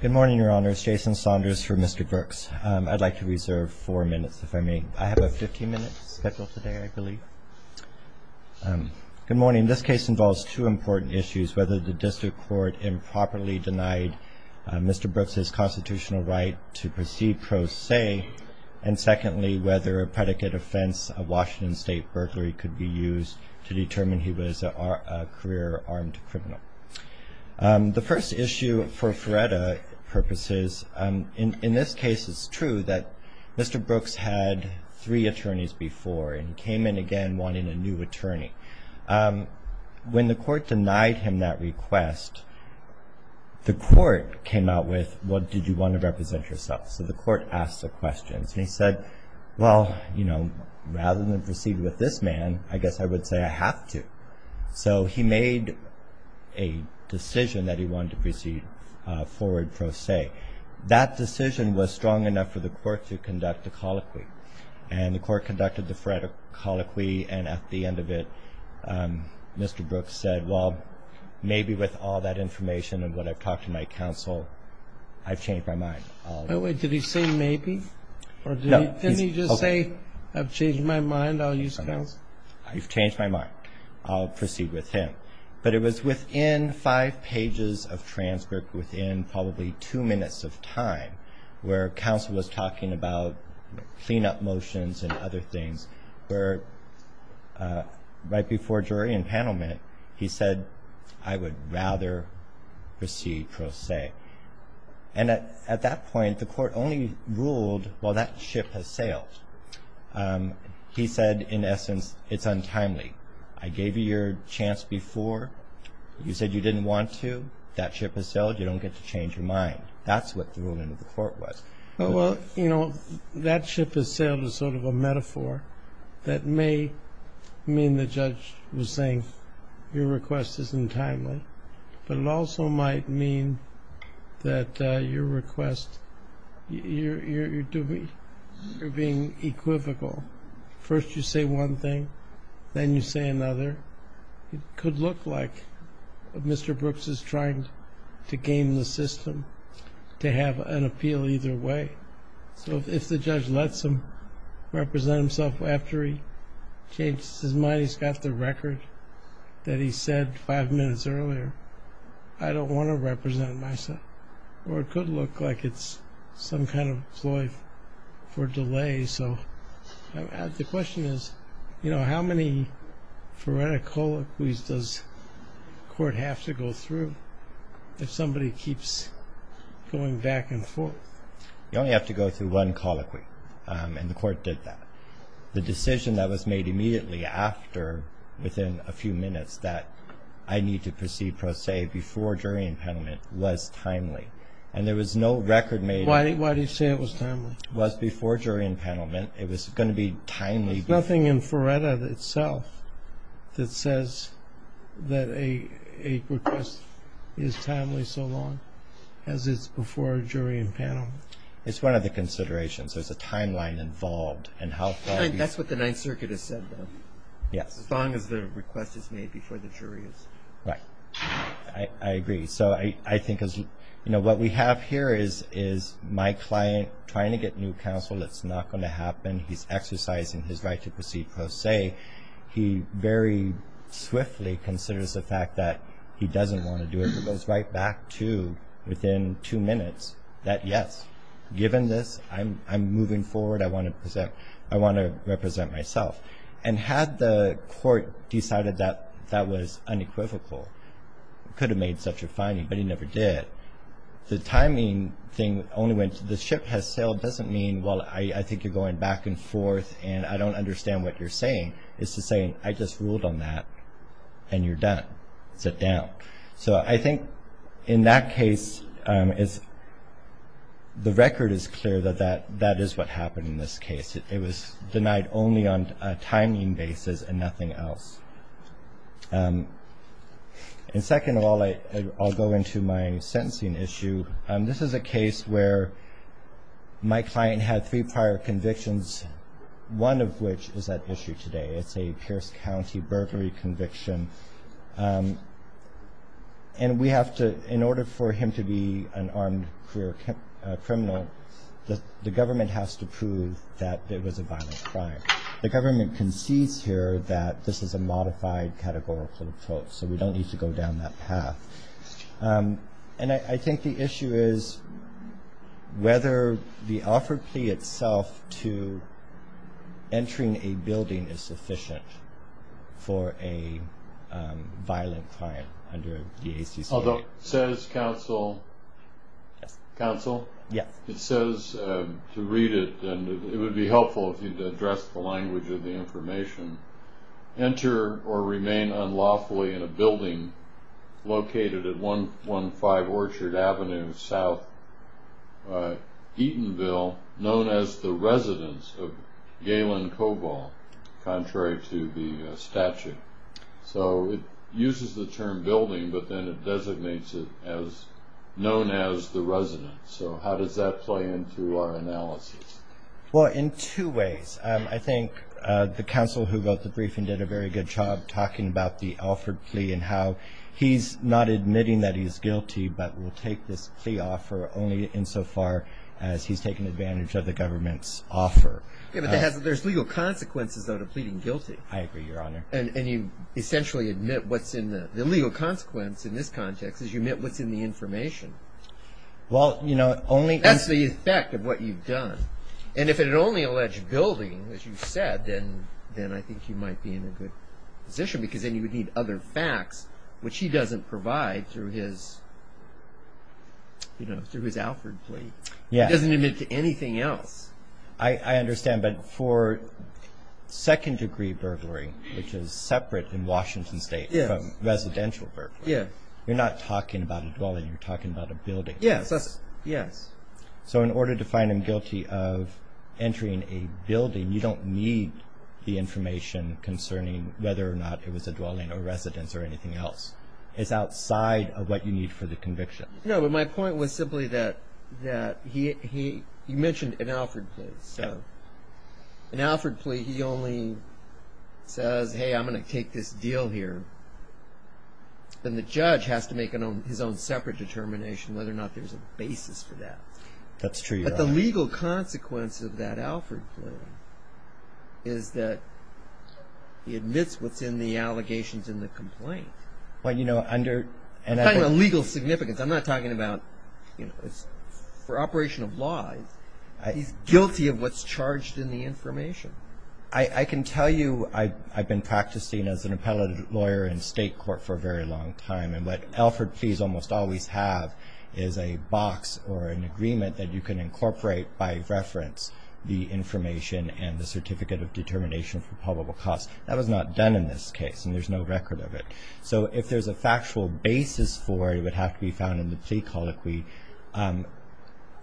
Good morning, Your Honors. Jason Saunders for Mr. Brooks. I'd like to reserve four minutes, if I may. I have a 15-minute schedule today, I believe. Good morning. This case involves two important issues, whether the district court improperly denied Mr. Brooks' constitutional right to proceed pro se, and secondly, whether a predicate offense of Washington State burglary could be used to determine he was a career armed criminal. The first issue, for FRERETA purposes, in this case it's true that Mr. Brooks had three attorneys before and came in again wanting a new attorney. When the court denied him that request, the court came out with, what did you want to represent yourself? So the court asked the questions, and he said, well, you know, rather than proceed with this man, I guess I would say I have to. So he made a decision that he wanted to proceed forward pro se. That decision was strong enough for the court to conduct a colloquy. And the court conducted the FRERETA colloquy, and at the end of it, Mr. Brooks said, well, maybe with all that information and what I've talked to my counsel, I've changed my mind. I'll use counsel. I've changed my mind. I'll proceed with him. But it was within five pages of transcript, within probably two minutes of time, where counsel was talking about clean-up motions and other things, where right before jury and panel met, he said, I would rather proceed pro se. And at that point, the court only ruled, well, that ship has sailed. He said, in essence, it's untimely. I gave you your chance before. You said you didn't want to. That ship has sailed. You don't get to change your mind. That's what the ruling of the court was. Well, you know, that ship has sailed is sort of a metaphor that may mean the judge was saying your request isn't timely, but it also might mean that your request, you're being equivocal. First you say one thing. Then you say another. It could look like Mr. Brooks is trying to game the system, to have an appeal either way. So if the judge lets him represent himself after he changes his mind, he's got the record that he said five minutes earlier, I don't want to represent myself. Or it could look like it's some kind of ploy for delay. The question is, you know, how many phoretic colloquies does the court have to go through if somebody keeps going back and forth? You only have to go through one colloquy, and the court did that. The decision that was made immediately after, within a few minutes, that I need to proceed pro se before jury impendment was timely. And there was no record made. Why do you say it was timely? It was before jury impendment. It was going to be timely. There's nothing in Phoretic itself that says that a request is timely so long as it's before jury impendment. It's one of the considerations. There's a timeline involved. That's what the Ninth Circuit has said, though. Yes. As long as the request is made before the jury is. Right. I agree. So I think, you know, what we have here is my client trying to get new counsel. It's not going to happen. He's exercising his right to proceed pro se. He very swiftly considers the fact that he doesn't want to do it. It goes right back to within two minutes that, yes, given this, I'm moving forward. I want to represent myself. And had the court decided that that was unequivocal, could have made such a finding, but he never did, the timing thing only went to the ship has sailed doesn't mean, well, I think you're going back and forth and I don't understand what you're saying. It's to say, I just ruled on that, and you're done. Sit down. So I think in that case, the record is clear that that is what happened in this case. It was denied only on a timing basis and nothing else. And second of all, I'll go into my sentencing issue. This is a case where my client had three prior convictions, one of which is at issue today. It's a Pierce County burglary conviction. And we have to, in order for him to be an armed career criminal, the government has to prove that it was a violent crime. The government concedes here that this is a modified categorical approach, so we don't need to go down that path. And I think the issue is whether the offer plea itself to entering a building is sufficient for a violent crime under the ACCA. Although it says, counsel, it says to read it, and it would be helpful if you addressed the language of the information, enter or remain unlawfully in a building located at 115 Orchard Avenue, South Eatonville, known as the residence of Galen Cobol, contrary to the statute. So it uses the term building, but then it designates it as known as the residence. So how does that play into our analysis? Well, in two ways. I think the counsel who wrote the briefing did a very good job talking about the offered plea and how he's not admitting that he's guilty, but will take this plea offer only insofar as he's taken advantage of the government's offer. Yeah, but there's legal consequences, though, to pleading guilty. I agree, Your Honor. And you essentially admit what's in the legal consequence in this context is you admit what's in the information. Well, you know, only as the effect of what you've done. And if it only alleged building, as you've said, then I think you might be in a good position because then you would need other facts, which he doesn't provide through his Alfred plea. He doesn't admit to anything else. I understand, but for second-degree burglary, which is separate in Washington State from residential burglary, you're not talking about a dwelling, you're talking about a building. Yes. So in order to find him guilty of entering a building, you don't need the information concerning whether or not it was a dwelling or residence or anything else. It's outside of what you need for the conviction. No, but my point was simply that he mentioned an Alfred plea. So an Alfred plea, he only says, hey, I'm going to take this deal here. Then the judge has to make his own separate determination whether or not there's a basis for that. That's true. But the legal consequence of that Alfred plea is that he admits what's in the allegations in the complaint. Well, you know, under – I'm talking about legal significance. I'm not talking about, you know, for operation of law, he's guilty of what's charged in the information. I can tell you I've been practicing as an appellate lawyer in state court for a very long time, and what Alfred pleas almost always have is a box or an agreement that you can incorporate by reference, the information and the certificate of determination for probable cause. That was not done in this case, and there's no record of it. So if there's a factual basis for it, it would have to be found in the plea colloquy.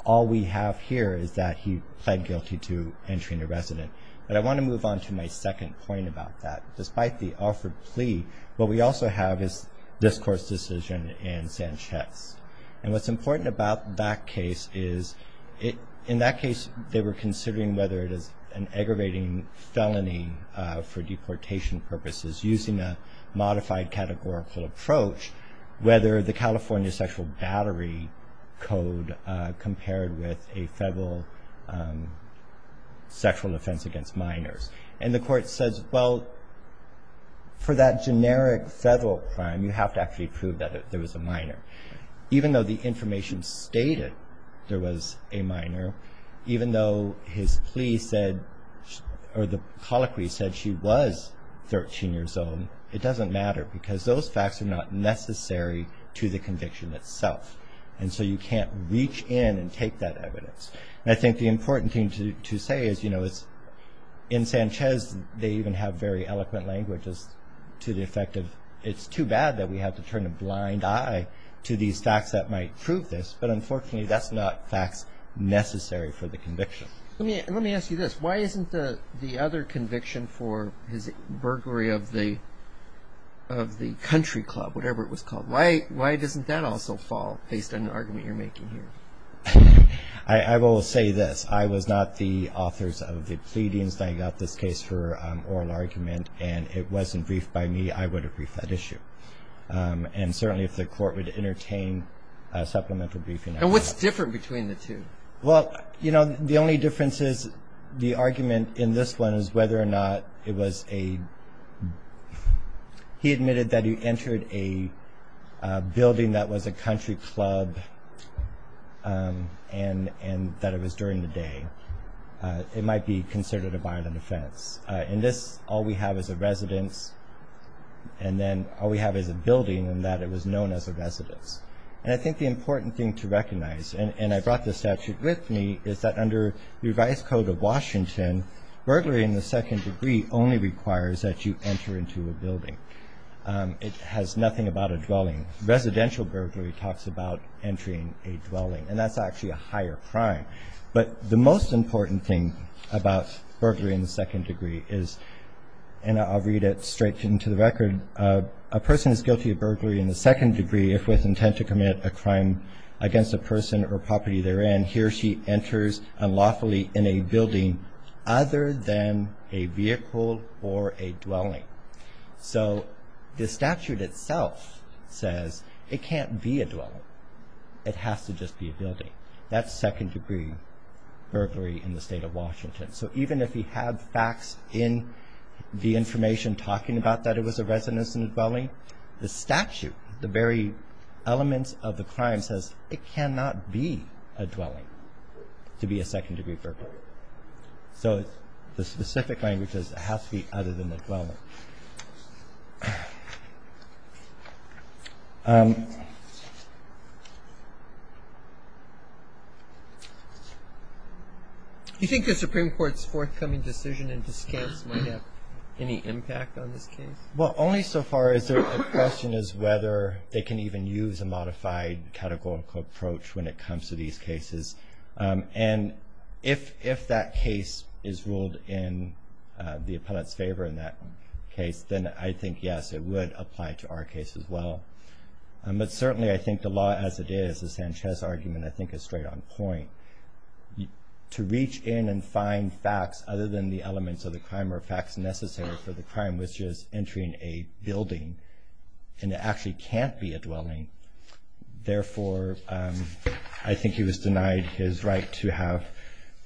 All we have here is that he pled guilty to entering a residence. But I want to move on to my second point about that. Despite the Alfred plea, what we also have is this court's decision in Sanchez. And what's important about that case is, in that case, they were considering whether it is an aggravating felony for deportation purposes, using a modified categorical approach, whether the California sexual battery code compared with a federal sexual offense against minors. And the court says, well, for that generic federal crime, you have to actually prove that there was a minor. Even though the information stated there was a minor, even though his plea said or the colloquy said she was 13 years old, it doesn't matter because those facts are not necessary to the conviction itself. And so you can't reach in and take that evidence. And I think the important thing to say is, you know, in Sanchez they even have very eloquent languages to the effect of, it's too bad that we have to turn a blind eye to these facts that might prove this. But, unfortunately, that's not facts necessary for the conviction. Let me ask you this. Why isn't the other conviction for his burglary of the country club, whatever it was called, why doesn't that also fall based on the argument you're making here? I will say this. I was not the authors of the pleadings. I got this case for oral argument. And it wasn't briefed by me. I would have briefed that issue. And certainly if the court would entertain a supplemental briefing. And what's different between the two? Well, you know, the only difference is the argument in this one is whether or not it was a He admitted that he entered a building that was a country club and that it was during the day. It might be considered a violent offense. In this, all we have is a residence. And then all we have is a building and that it was known as a residence. And I think the important thing to recognize, and I brought the statute with me, is that under the revised code of Washington, burglary in the second degree only requires that you enter into a building. It has nothing about a dwelling. Residential burglary talks about entering a dwelling. And that's actually a higher crime. But the most important thing about burglary in the second degree is, and I'll read it straight into the record, a person is guilty of burglary in the second degree if with intent to commit a crime against a person or property they're in, he or she enters unlawfully in a building other than a vehicle or a dwelling. So the statute itself says it can't be a dwelling. It has to just be a building. That's second degree burglary in the state of Washington. So even if he had facts in the information talking about that it was a residence and a dwelling, the statute, the very elements of the crime says it cannot be a dwelling to be a second degree burglary. So the specific language says it has to be other than a dwelling. Do you think the Supreme Court's forthcoming decision in discounts might have any impact on this case? Well, only so far as the question is whether they can even use a modified categorical approach when it comes to these cases. And if that case is ruled in the appellate's favor in that case, then I think, yes, it would apply to our case as well. But certainly I think the law as it is, the Sanchez argument, I think is straight on point. To reach in and find facts other than the elements of the crime or facts necessary for the crime, which is entering a building and it actually can't be a dwelling. Therefore, I think he was denied his right to have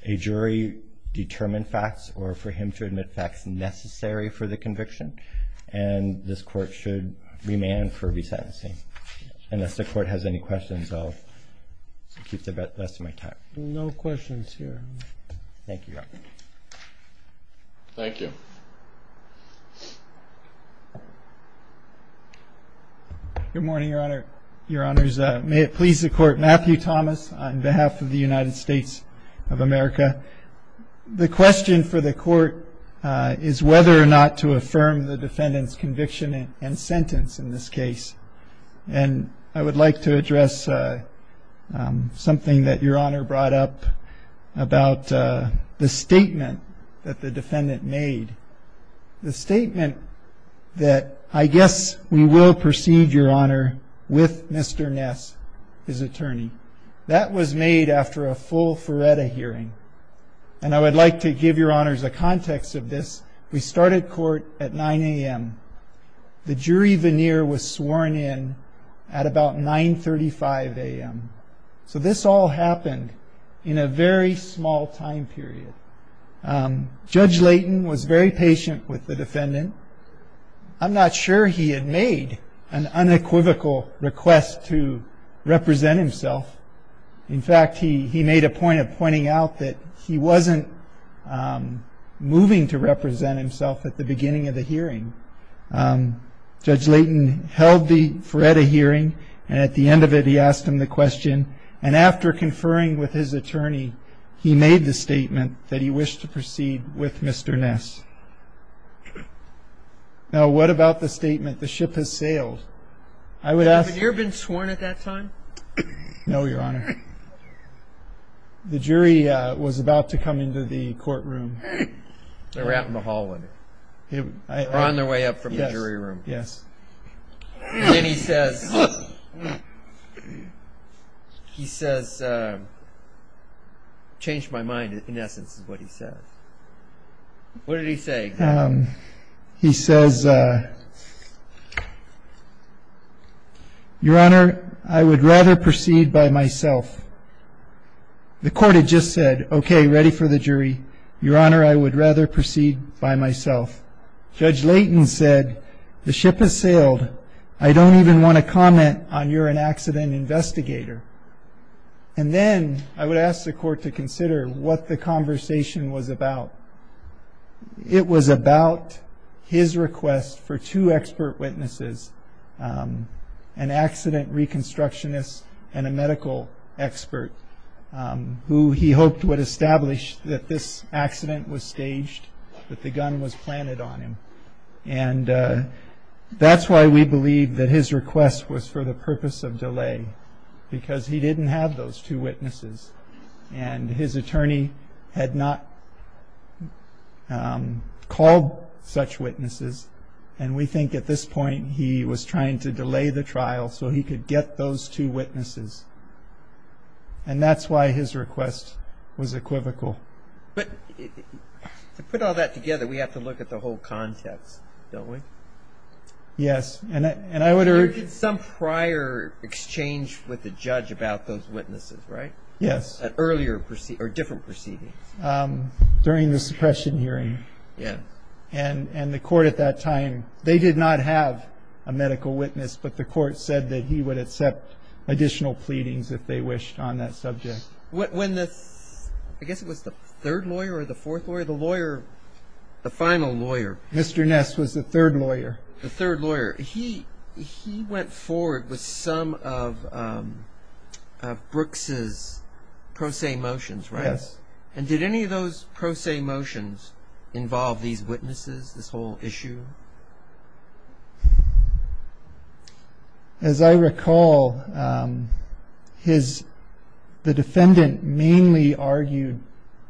a jury determine facts or for him to admit facts necessary for the conviction. And this court should remand for resentencing. Unless the court has any questions, I'll keep the rest of my time. No questions here. Thank you, Your Honor. Thank you. Good morning, Your Honor. Your Honor, may it please the court. Matthew Thomas on behalf of the United States of America. The question for the court is whether or not to affirm the defendant's conviction and sentence in this case. And I would like to address something that Your Honor brought up about the statement that the defendant made. The statement that I guess we will proceed, Your Honor, with Mr. Ness, his attorney. That was made after a full Feretta hearing. And I would like to give Your Honors a context of this. We started court at 9 a.m. The jury veneer was sworn in at about 935 a.m. So this all happened in a very small time period. Judge Layton was very patient with the defendant. I'm not sure he had made an unequivocal request to represent himself. In fact, he made a point of pointing out that he wasn't moving to represent himself at the beginning of the hearing. Judge Layton held the Feretta hearing, and at the end of it, he asked him the question. And after conferring with his attorney, he made the statement that he wished to proceed with Mr. Ness. Now, what about the statement, the ship has sailed? Has the veneer been sworn at that time? No, Your Honor. The jury was about to come into the courtroom. They were out in the hallway. They were on their way up from the jury room. Yes. And then he says, he says, changed my mind, in essence, is what he said. What did he say? He says, Your Honor, I would rather proceed by myself. The court had just said, okay, ready for the jury. Your Honor, I would rather proceed by myself. Judge Layton said, the ship has sailed. I don't even want to comment on you're an accident investigator. And then I would ask the court to consider what the conversation was about. It was about his request for two expert witnesses, an accident reconstructionist and a medical expert, who he hoped would establish that this accident was staged, that the gun was planted on him. And that's why we believe that his request was for the purpose of delay, because he didn't have those two witnesses. And his attorney had not called such witnesses. And we think at this point he was trying to delay the trial so he could get those two witnesses. And that's why his request was equivocal. But to put all that together, we have to look at the whole context, don't we? Yes. And I would urge There was some prior exchange with the judge about those witnesses, right? Yes. At earlier, or different proceedings. During the suppression hearing. Yes. And the court at that time, they did not have a medical witness, but the court said that he would accept additional pleadings if they wished on that subject. When the, I guess it was the third lawyer or the fourth lawyer, the lawyer, the final lawyer. Mr. Ness was the third lawyer. The third lawyer. He went forward with some of Brooks' pro se motions, right? Yes. And did any of those pro se motions involve these witnesses, this whole issue? As I recall, the defendant mainly argued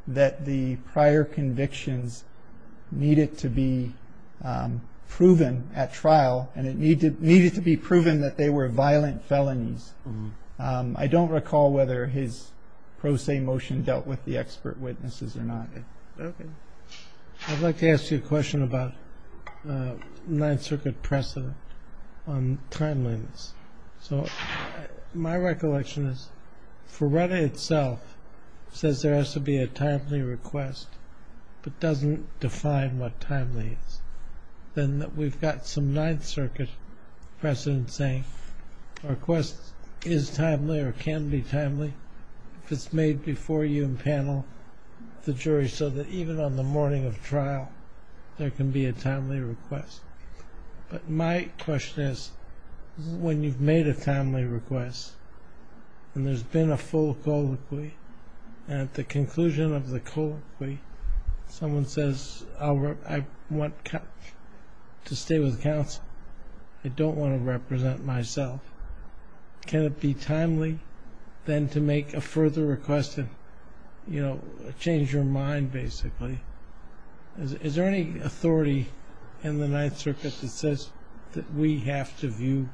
that the prior convictions needed to be proven at trial and it needed to be proven that they were violent felonies. I don't recall whether his pro se motion dealt with the expert witnesses or not. Okay. I'd like to ask you a question about Ninth Circuit precedent on timeliness. So my recollection is Ferreira itself says there has to be a timely request, but doesn't define what timely is. Then we've got some Ninth Circuit precedent saying a request is timely or can be timely if it's made before you and panel, the jury, so that even on the morning of trial, there can be a timely request. But my question is when you've made a timely request and there's been a full colloquy and at the conclusion of the colloquy, someone says, I want to stay with counsel, I don't want to represent myself. Can it be timely then to make a further request and, you know, change your mind basically? Is there any authority in the Ninth Circuit that says that we have to view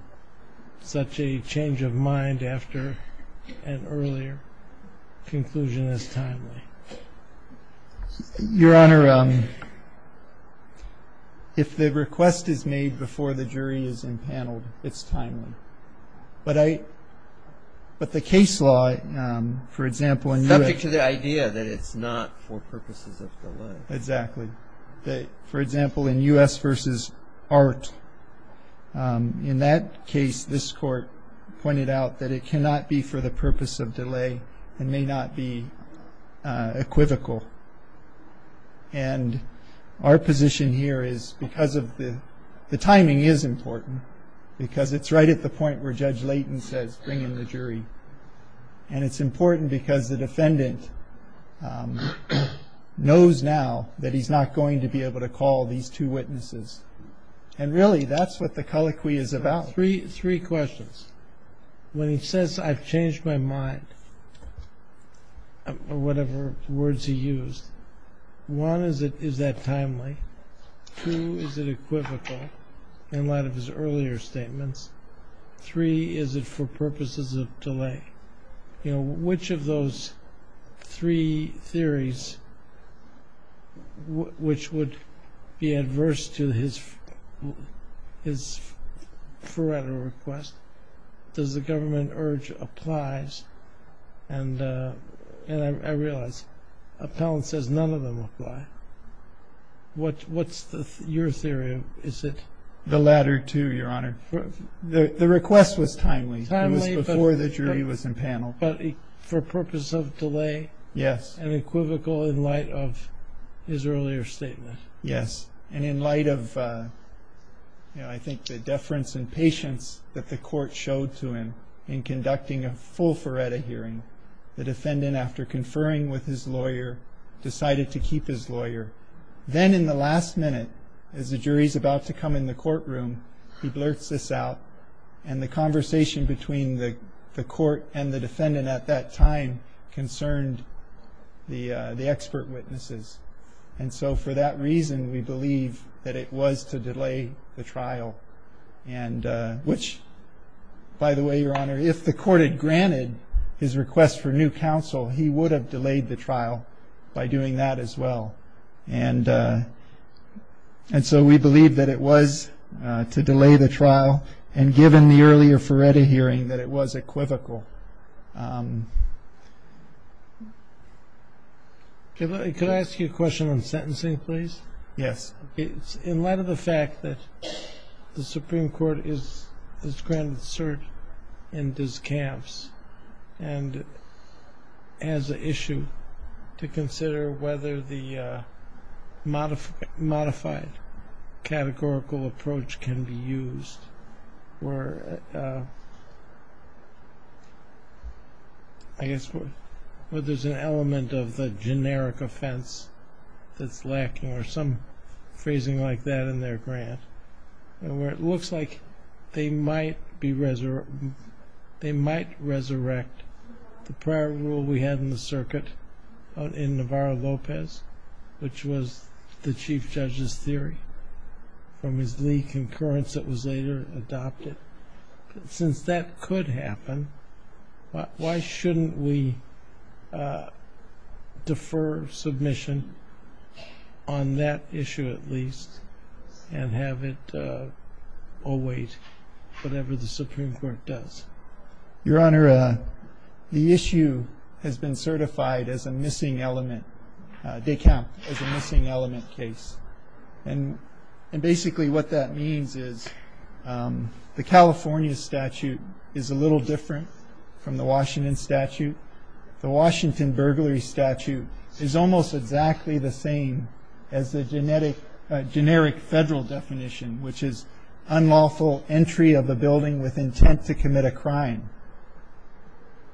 such a change of mind after an earlier conclusion as timely? Your Honor, if the request is made before the jury is impaneled, it's timely. But the case law, for example, subject to the idea that it's not for purposes of delay. Exactly. For example, in U.S. v. Art, in that case, this Court pointed out that it cannot be for the purpose of delay and may not be equivocal. And our position here is because of the timing is important because it's right at the point where Judge Layton says bring in the jury. And it's important because the defendant knows now that he's not going to be able to call these two witnesses. And really, that's what the colloquy is about. Three questions. When he says, I've changed my mind, or whatever words he used, one, is that timely? Two, is it equivocal in light of his earlier statements? Three, is it for purposes of delay? Which of those three theories, which would be adverse to his forerunner request, does the government urge applies? And I realize Appellant says none of them apply. What's your theory? The latter two, Your Honor. The request was timely. It was before the jury was in panel. But for purpose of delay? Yes. And equivocal in light of his earlier statement? Yes. And in light of, you know, I think the deference and patience that the Court showed to him in conducting a full Faretta hearing, the defendant, after conferring with his lawyer, decided to keep his lawyer. Then in the last minute, as the jury's about to come in the courtroom, he blurts this out. And the conversation between the Court and the defendant at that time concerned the expert witnesses. And so for that reason, we believe that it was to delay the trial, which, by the way, Your Honor, if the Court had granted his request for new counsel, he would have delayed the trial by doing that as well. And so we believe that it was to delay the trial, and given the earlier Faretta hearing, that it was equivocal. Could I ask you a question on sentencing, please? Yes. In light of the fact that the Supreme Court has granted cert in discamps and as an issue to consider whether the modified categorical approach can be used, I guess whether there's an element of the generic offense that's lacking, or some phrasing like that in their grant, where it looks like they might resurrect the prior rule we had in the circuit in Navarro-Lopez, which was the Chief Judge's theory, from his Lee concurrence that was later adopted. Since that could happen, why shouldn't we defer submission on that issue at least and have it await whatever the Supreme Court does? Your Honor, the issue has been certified as a missing element, decamp as a missing element case. And basically what that means is the California statute is a little different from the Washington statute. The Washington burglary statute is almost exactly the same as the generic federal definition, which is unlawful entry of a building with intent to commit a crime.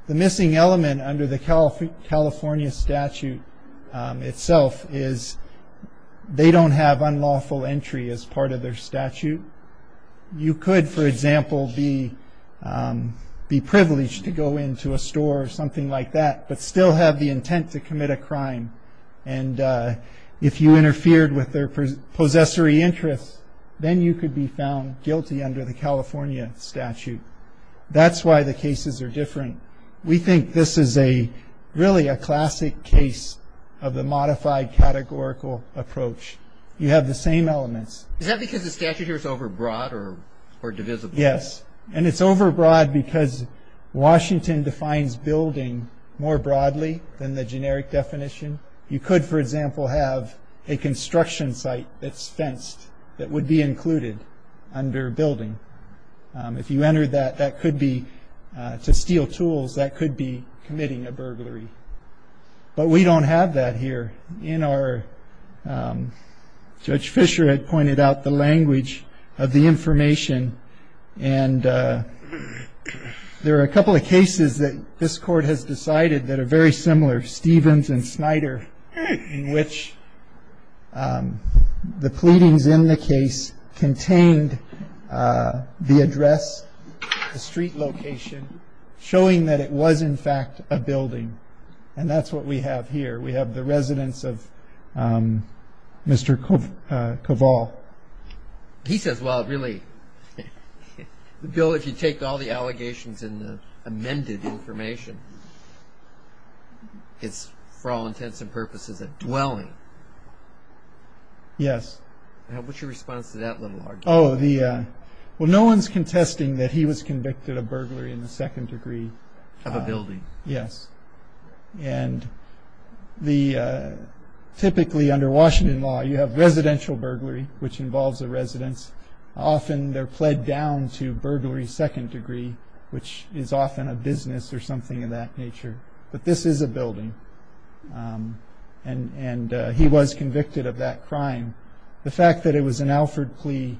The missing element under the California statute itself is they don't have unlawful entry as part of their statute. You could, for example, be privileged to go into a store or something like that, but still have the intent to commit a crime. And if you interfered with their possessory interests, then you could be found guilty under the California statute. That's why the cases are different. We think this is really a classic case of the modified categorical approach. You have the same elements. Is that because the statute here is overbroad or divisible? Yes. And it's overbroad because Washington defines building more broadly than the generic definition. You could, for example, have a construction site that's fenced that would be included under building. If you entered that, that could be to steal tools. That could be committing a burglary. But we don't have that here. Judge Fisher had pointed out the language of the information. And there are a couple of cases that this Court has decided that are very similar, Stevens and Snyder, in which the pleadings in the case contained the address, the street location, showing that it was, in fact, a building. And that's what we have here. We have the residence of Mr. Cavall. He says, well, really, Bill, if you take all the allegations in the amended information, it's for all intents and purposes a dwelling. Yes. What's your response to that little argument? Well, no one's contesting that he was convicted of burglary in the second degree. Of a building. Yes. And typically under Washington law, you have residential burglary, which involves a residence. Often they're pled down to burglary second degree, which is often a business or something of that nature. But this is a building. And he was convicted of that crime. The fact that it was an Alford plea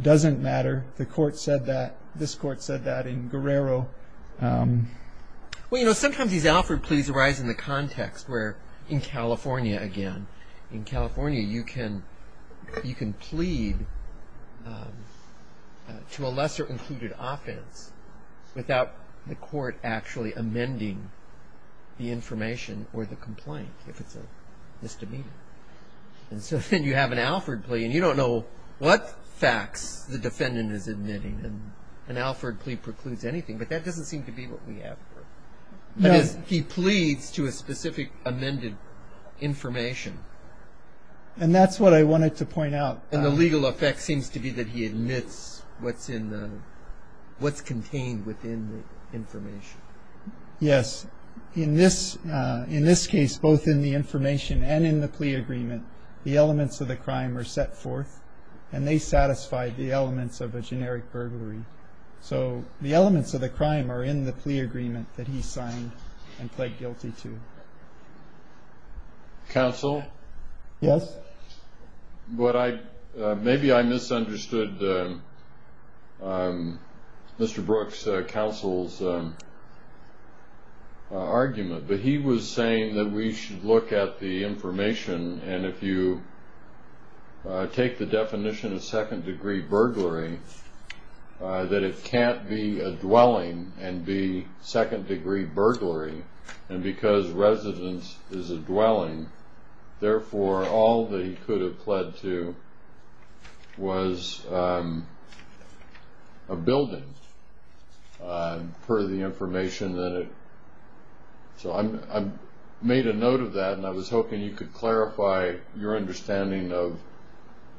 doesn't matter. The Court said that. This Court said that in Guerrero. Well, you know, sometimes these Alford pleas arise in the context where in California, again, in California, you can plead to a lesser included offense without the Court actually amending the information or the complaint, if it's a misdemeanor. And so then you have an Alford plea, and you don't know what facts the defendant is admitting. An Alford plea precludes anything, but that doesn't seem to be what we have here. He pleads to a specific amended information. And that's what I wanted to point out. And the legal effect seems to be that he admits what's contained within the information. Yes. In this case, both in the information and in the plea agreement, the elements of the crime were set forth, and they satisfy the elements of a generic burglary. So the elements of the crime are in the plea agreement that he signed and pled guilty to. Counsel? Yes. Maybe I misunderstood Mr. Brooks' counsel's argument, and if you take the definition of second-degree burglary, that it can't be a dwelling and be second-degree burglary, and because residence is a dwelling, therefore, all that he could have pled to was a building, per the information that it – So I made a note of that, and I was hoping you could clarify your understanding of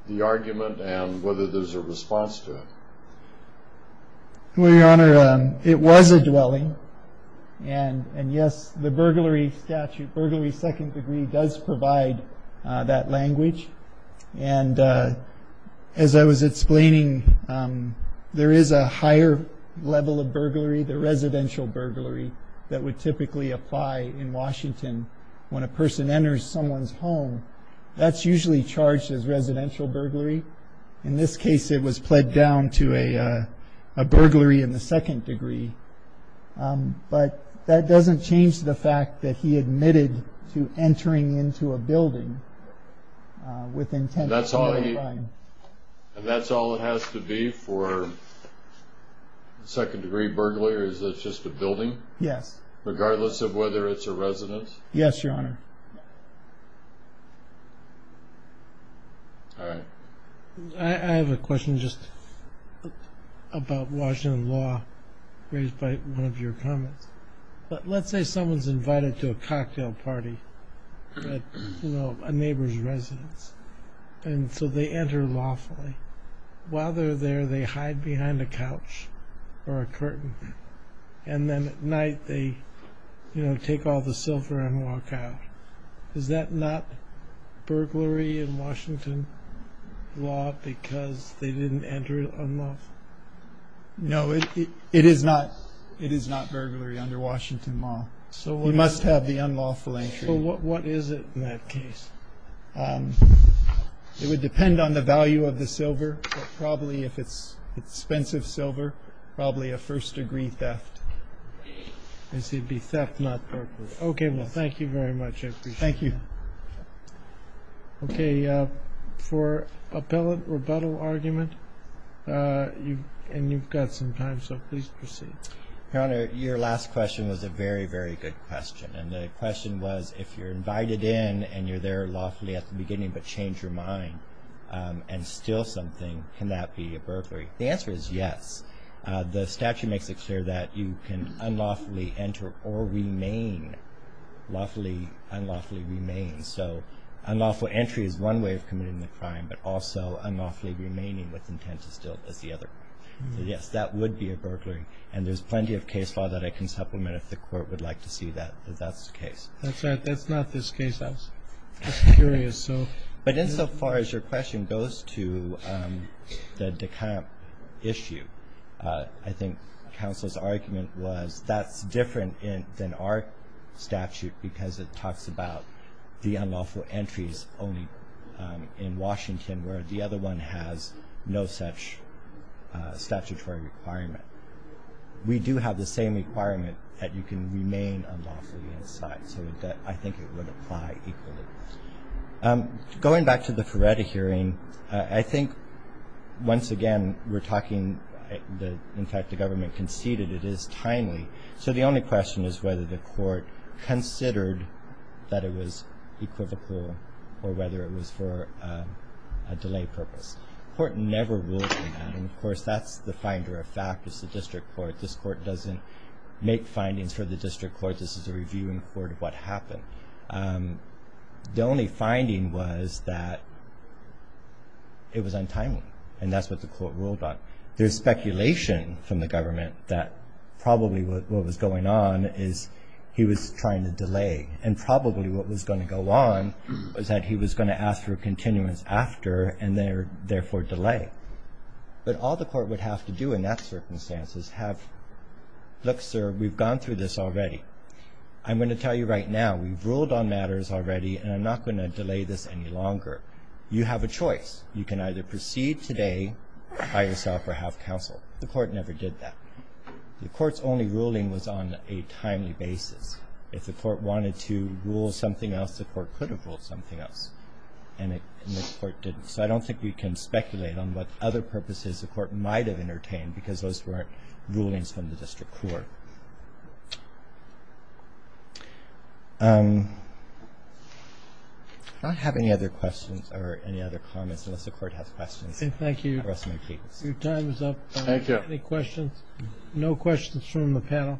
the argument and whether there's a response to it. Well, Your Honor, it was a dwelling. And yes, the burglary statute, burglary second degree, does provide that language. And as I was explaining, there is a higher level of burglary, the residential burglary, that would typically apply in Washington. When a person enters someone's home, that's usually charged as residential burglary. In this case, it was pled down to a burglary in the second degree. But that doesn't change the fact that he admitted to entering into a building with intent to murder a crime. And that's all it has to be for second-degree burglary, or is this just a building? Yes. Regardless of whether it's a residence? Yes, Your Honor. All right. I have a question just about Washington law, raised by one of your comments. Let's say someone's invited to a cocktail party at a neighbor's residence, and so they enter lawfully. While they're there, they hide behind a couch or a curtain. And then at night, they take all the silver and walk out. Is that not burglary in Washington law because they didn't enter unlawfully? No, it is not burglary under Washington law. You must have the unlawful entry. Well, what is it in that case? It would depend on the value of the silver. But probably if it's expensive silver, probably a first-degree theft. It would be theft, not burglary. Okay, well, thank you very much. I appreciate that. Thank you. Okay, for appellate rebuttal argument, and you've got some time, so please proceed. Your Honor, your last question was a very, very good question. And the question was, if you're invited in and you're there lawfully at the beginning but change your mind and steal something, can that be a burglary? The answer is yes. The statute makes it clear that you can unlawfully enter or remain lawfully, unlawfully remain. So unlawful entry is one way of committing the crime, but also unlawfully remaining with intent to steal is the other. So, yes, that would be a burglary. And there's plenty of case law that I can supplement if the Court would like to see that that's the case. That's right. That's not this case. I was just curious. But insofar as your question goes to the Dekamp issue, I think counsel's argument was that's different than our statute because it talks about the unlawful entries only in Washington, where the other one has no such statutory requirement. We do have the same requirement that you can remain unlawfully inside. So I think it would apply equally. Going back to the Feretta hearing, I think, once again, we're talking that, in fact, the government conceded it is timely. So the only question is whether the Court considered that it was equivocal or whether it was for a delay purpose. The Court never ruled on that. And, of course, that's the finder of fact is the District Court. This Court doesn't make findings for the District Court. This is a reviewing court of what happened. The only finding was that it was untimely, and that's what the Court ruled on. There's speculation from the government that probably what was going on is he was trying to delay, and probably what was going to go on was that he was going to ask for a continuance after and therefore delay. But all the Court would have to do in that circumstance is have, look, sir, we've gone through this already. I'm going to tell you right now, we've ruled on matters already, and I'm not going to delay this any longer. You have a choice. You can either proceed today by yourself or have counsel. The Court never did that. The Court's only ruling was on a timely basis. If the Court wanted to rule something else, the Court could have ruled something else, and the Court didn't. So I don't think we can speculate on what other purposes the Court might have entertained because those weren't rulings from the District Court. Do I have any other questions or any other comments, unless the Court has questions? Thank you. Your time is up. Thank you. Any questions? No questions from the panel.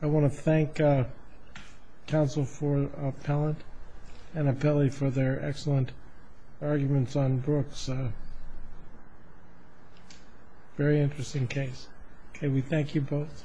I want to thank counsel for appellant and appellee for their excellent arguments on Brooks. Very interesting case. We thank you both.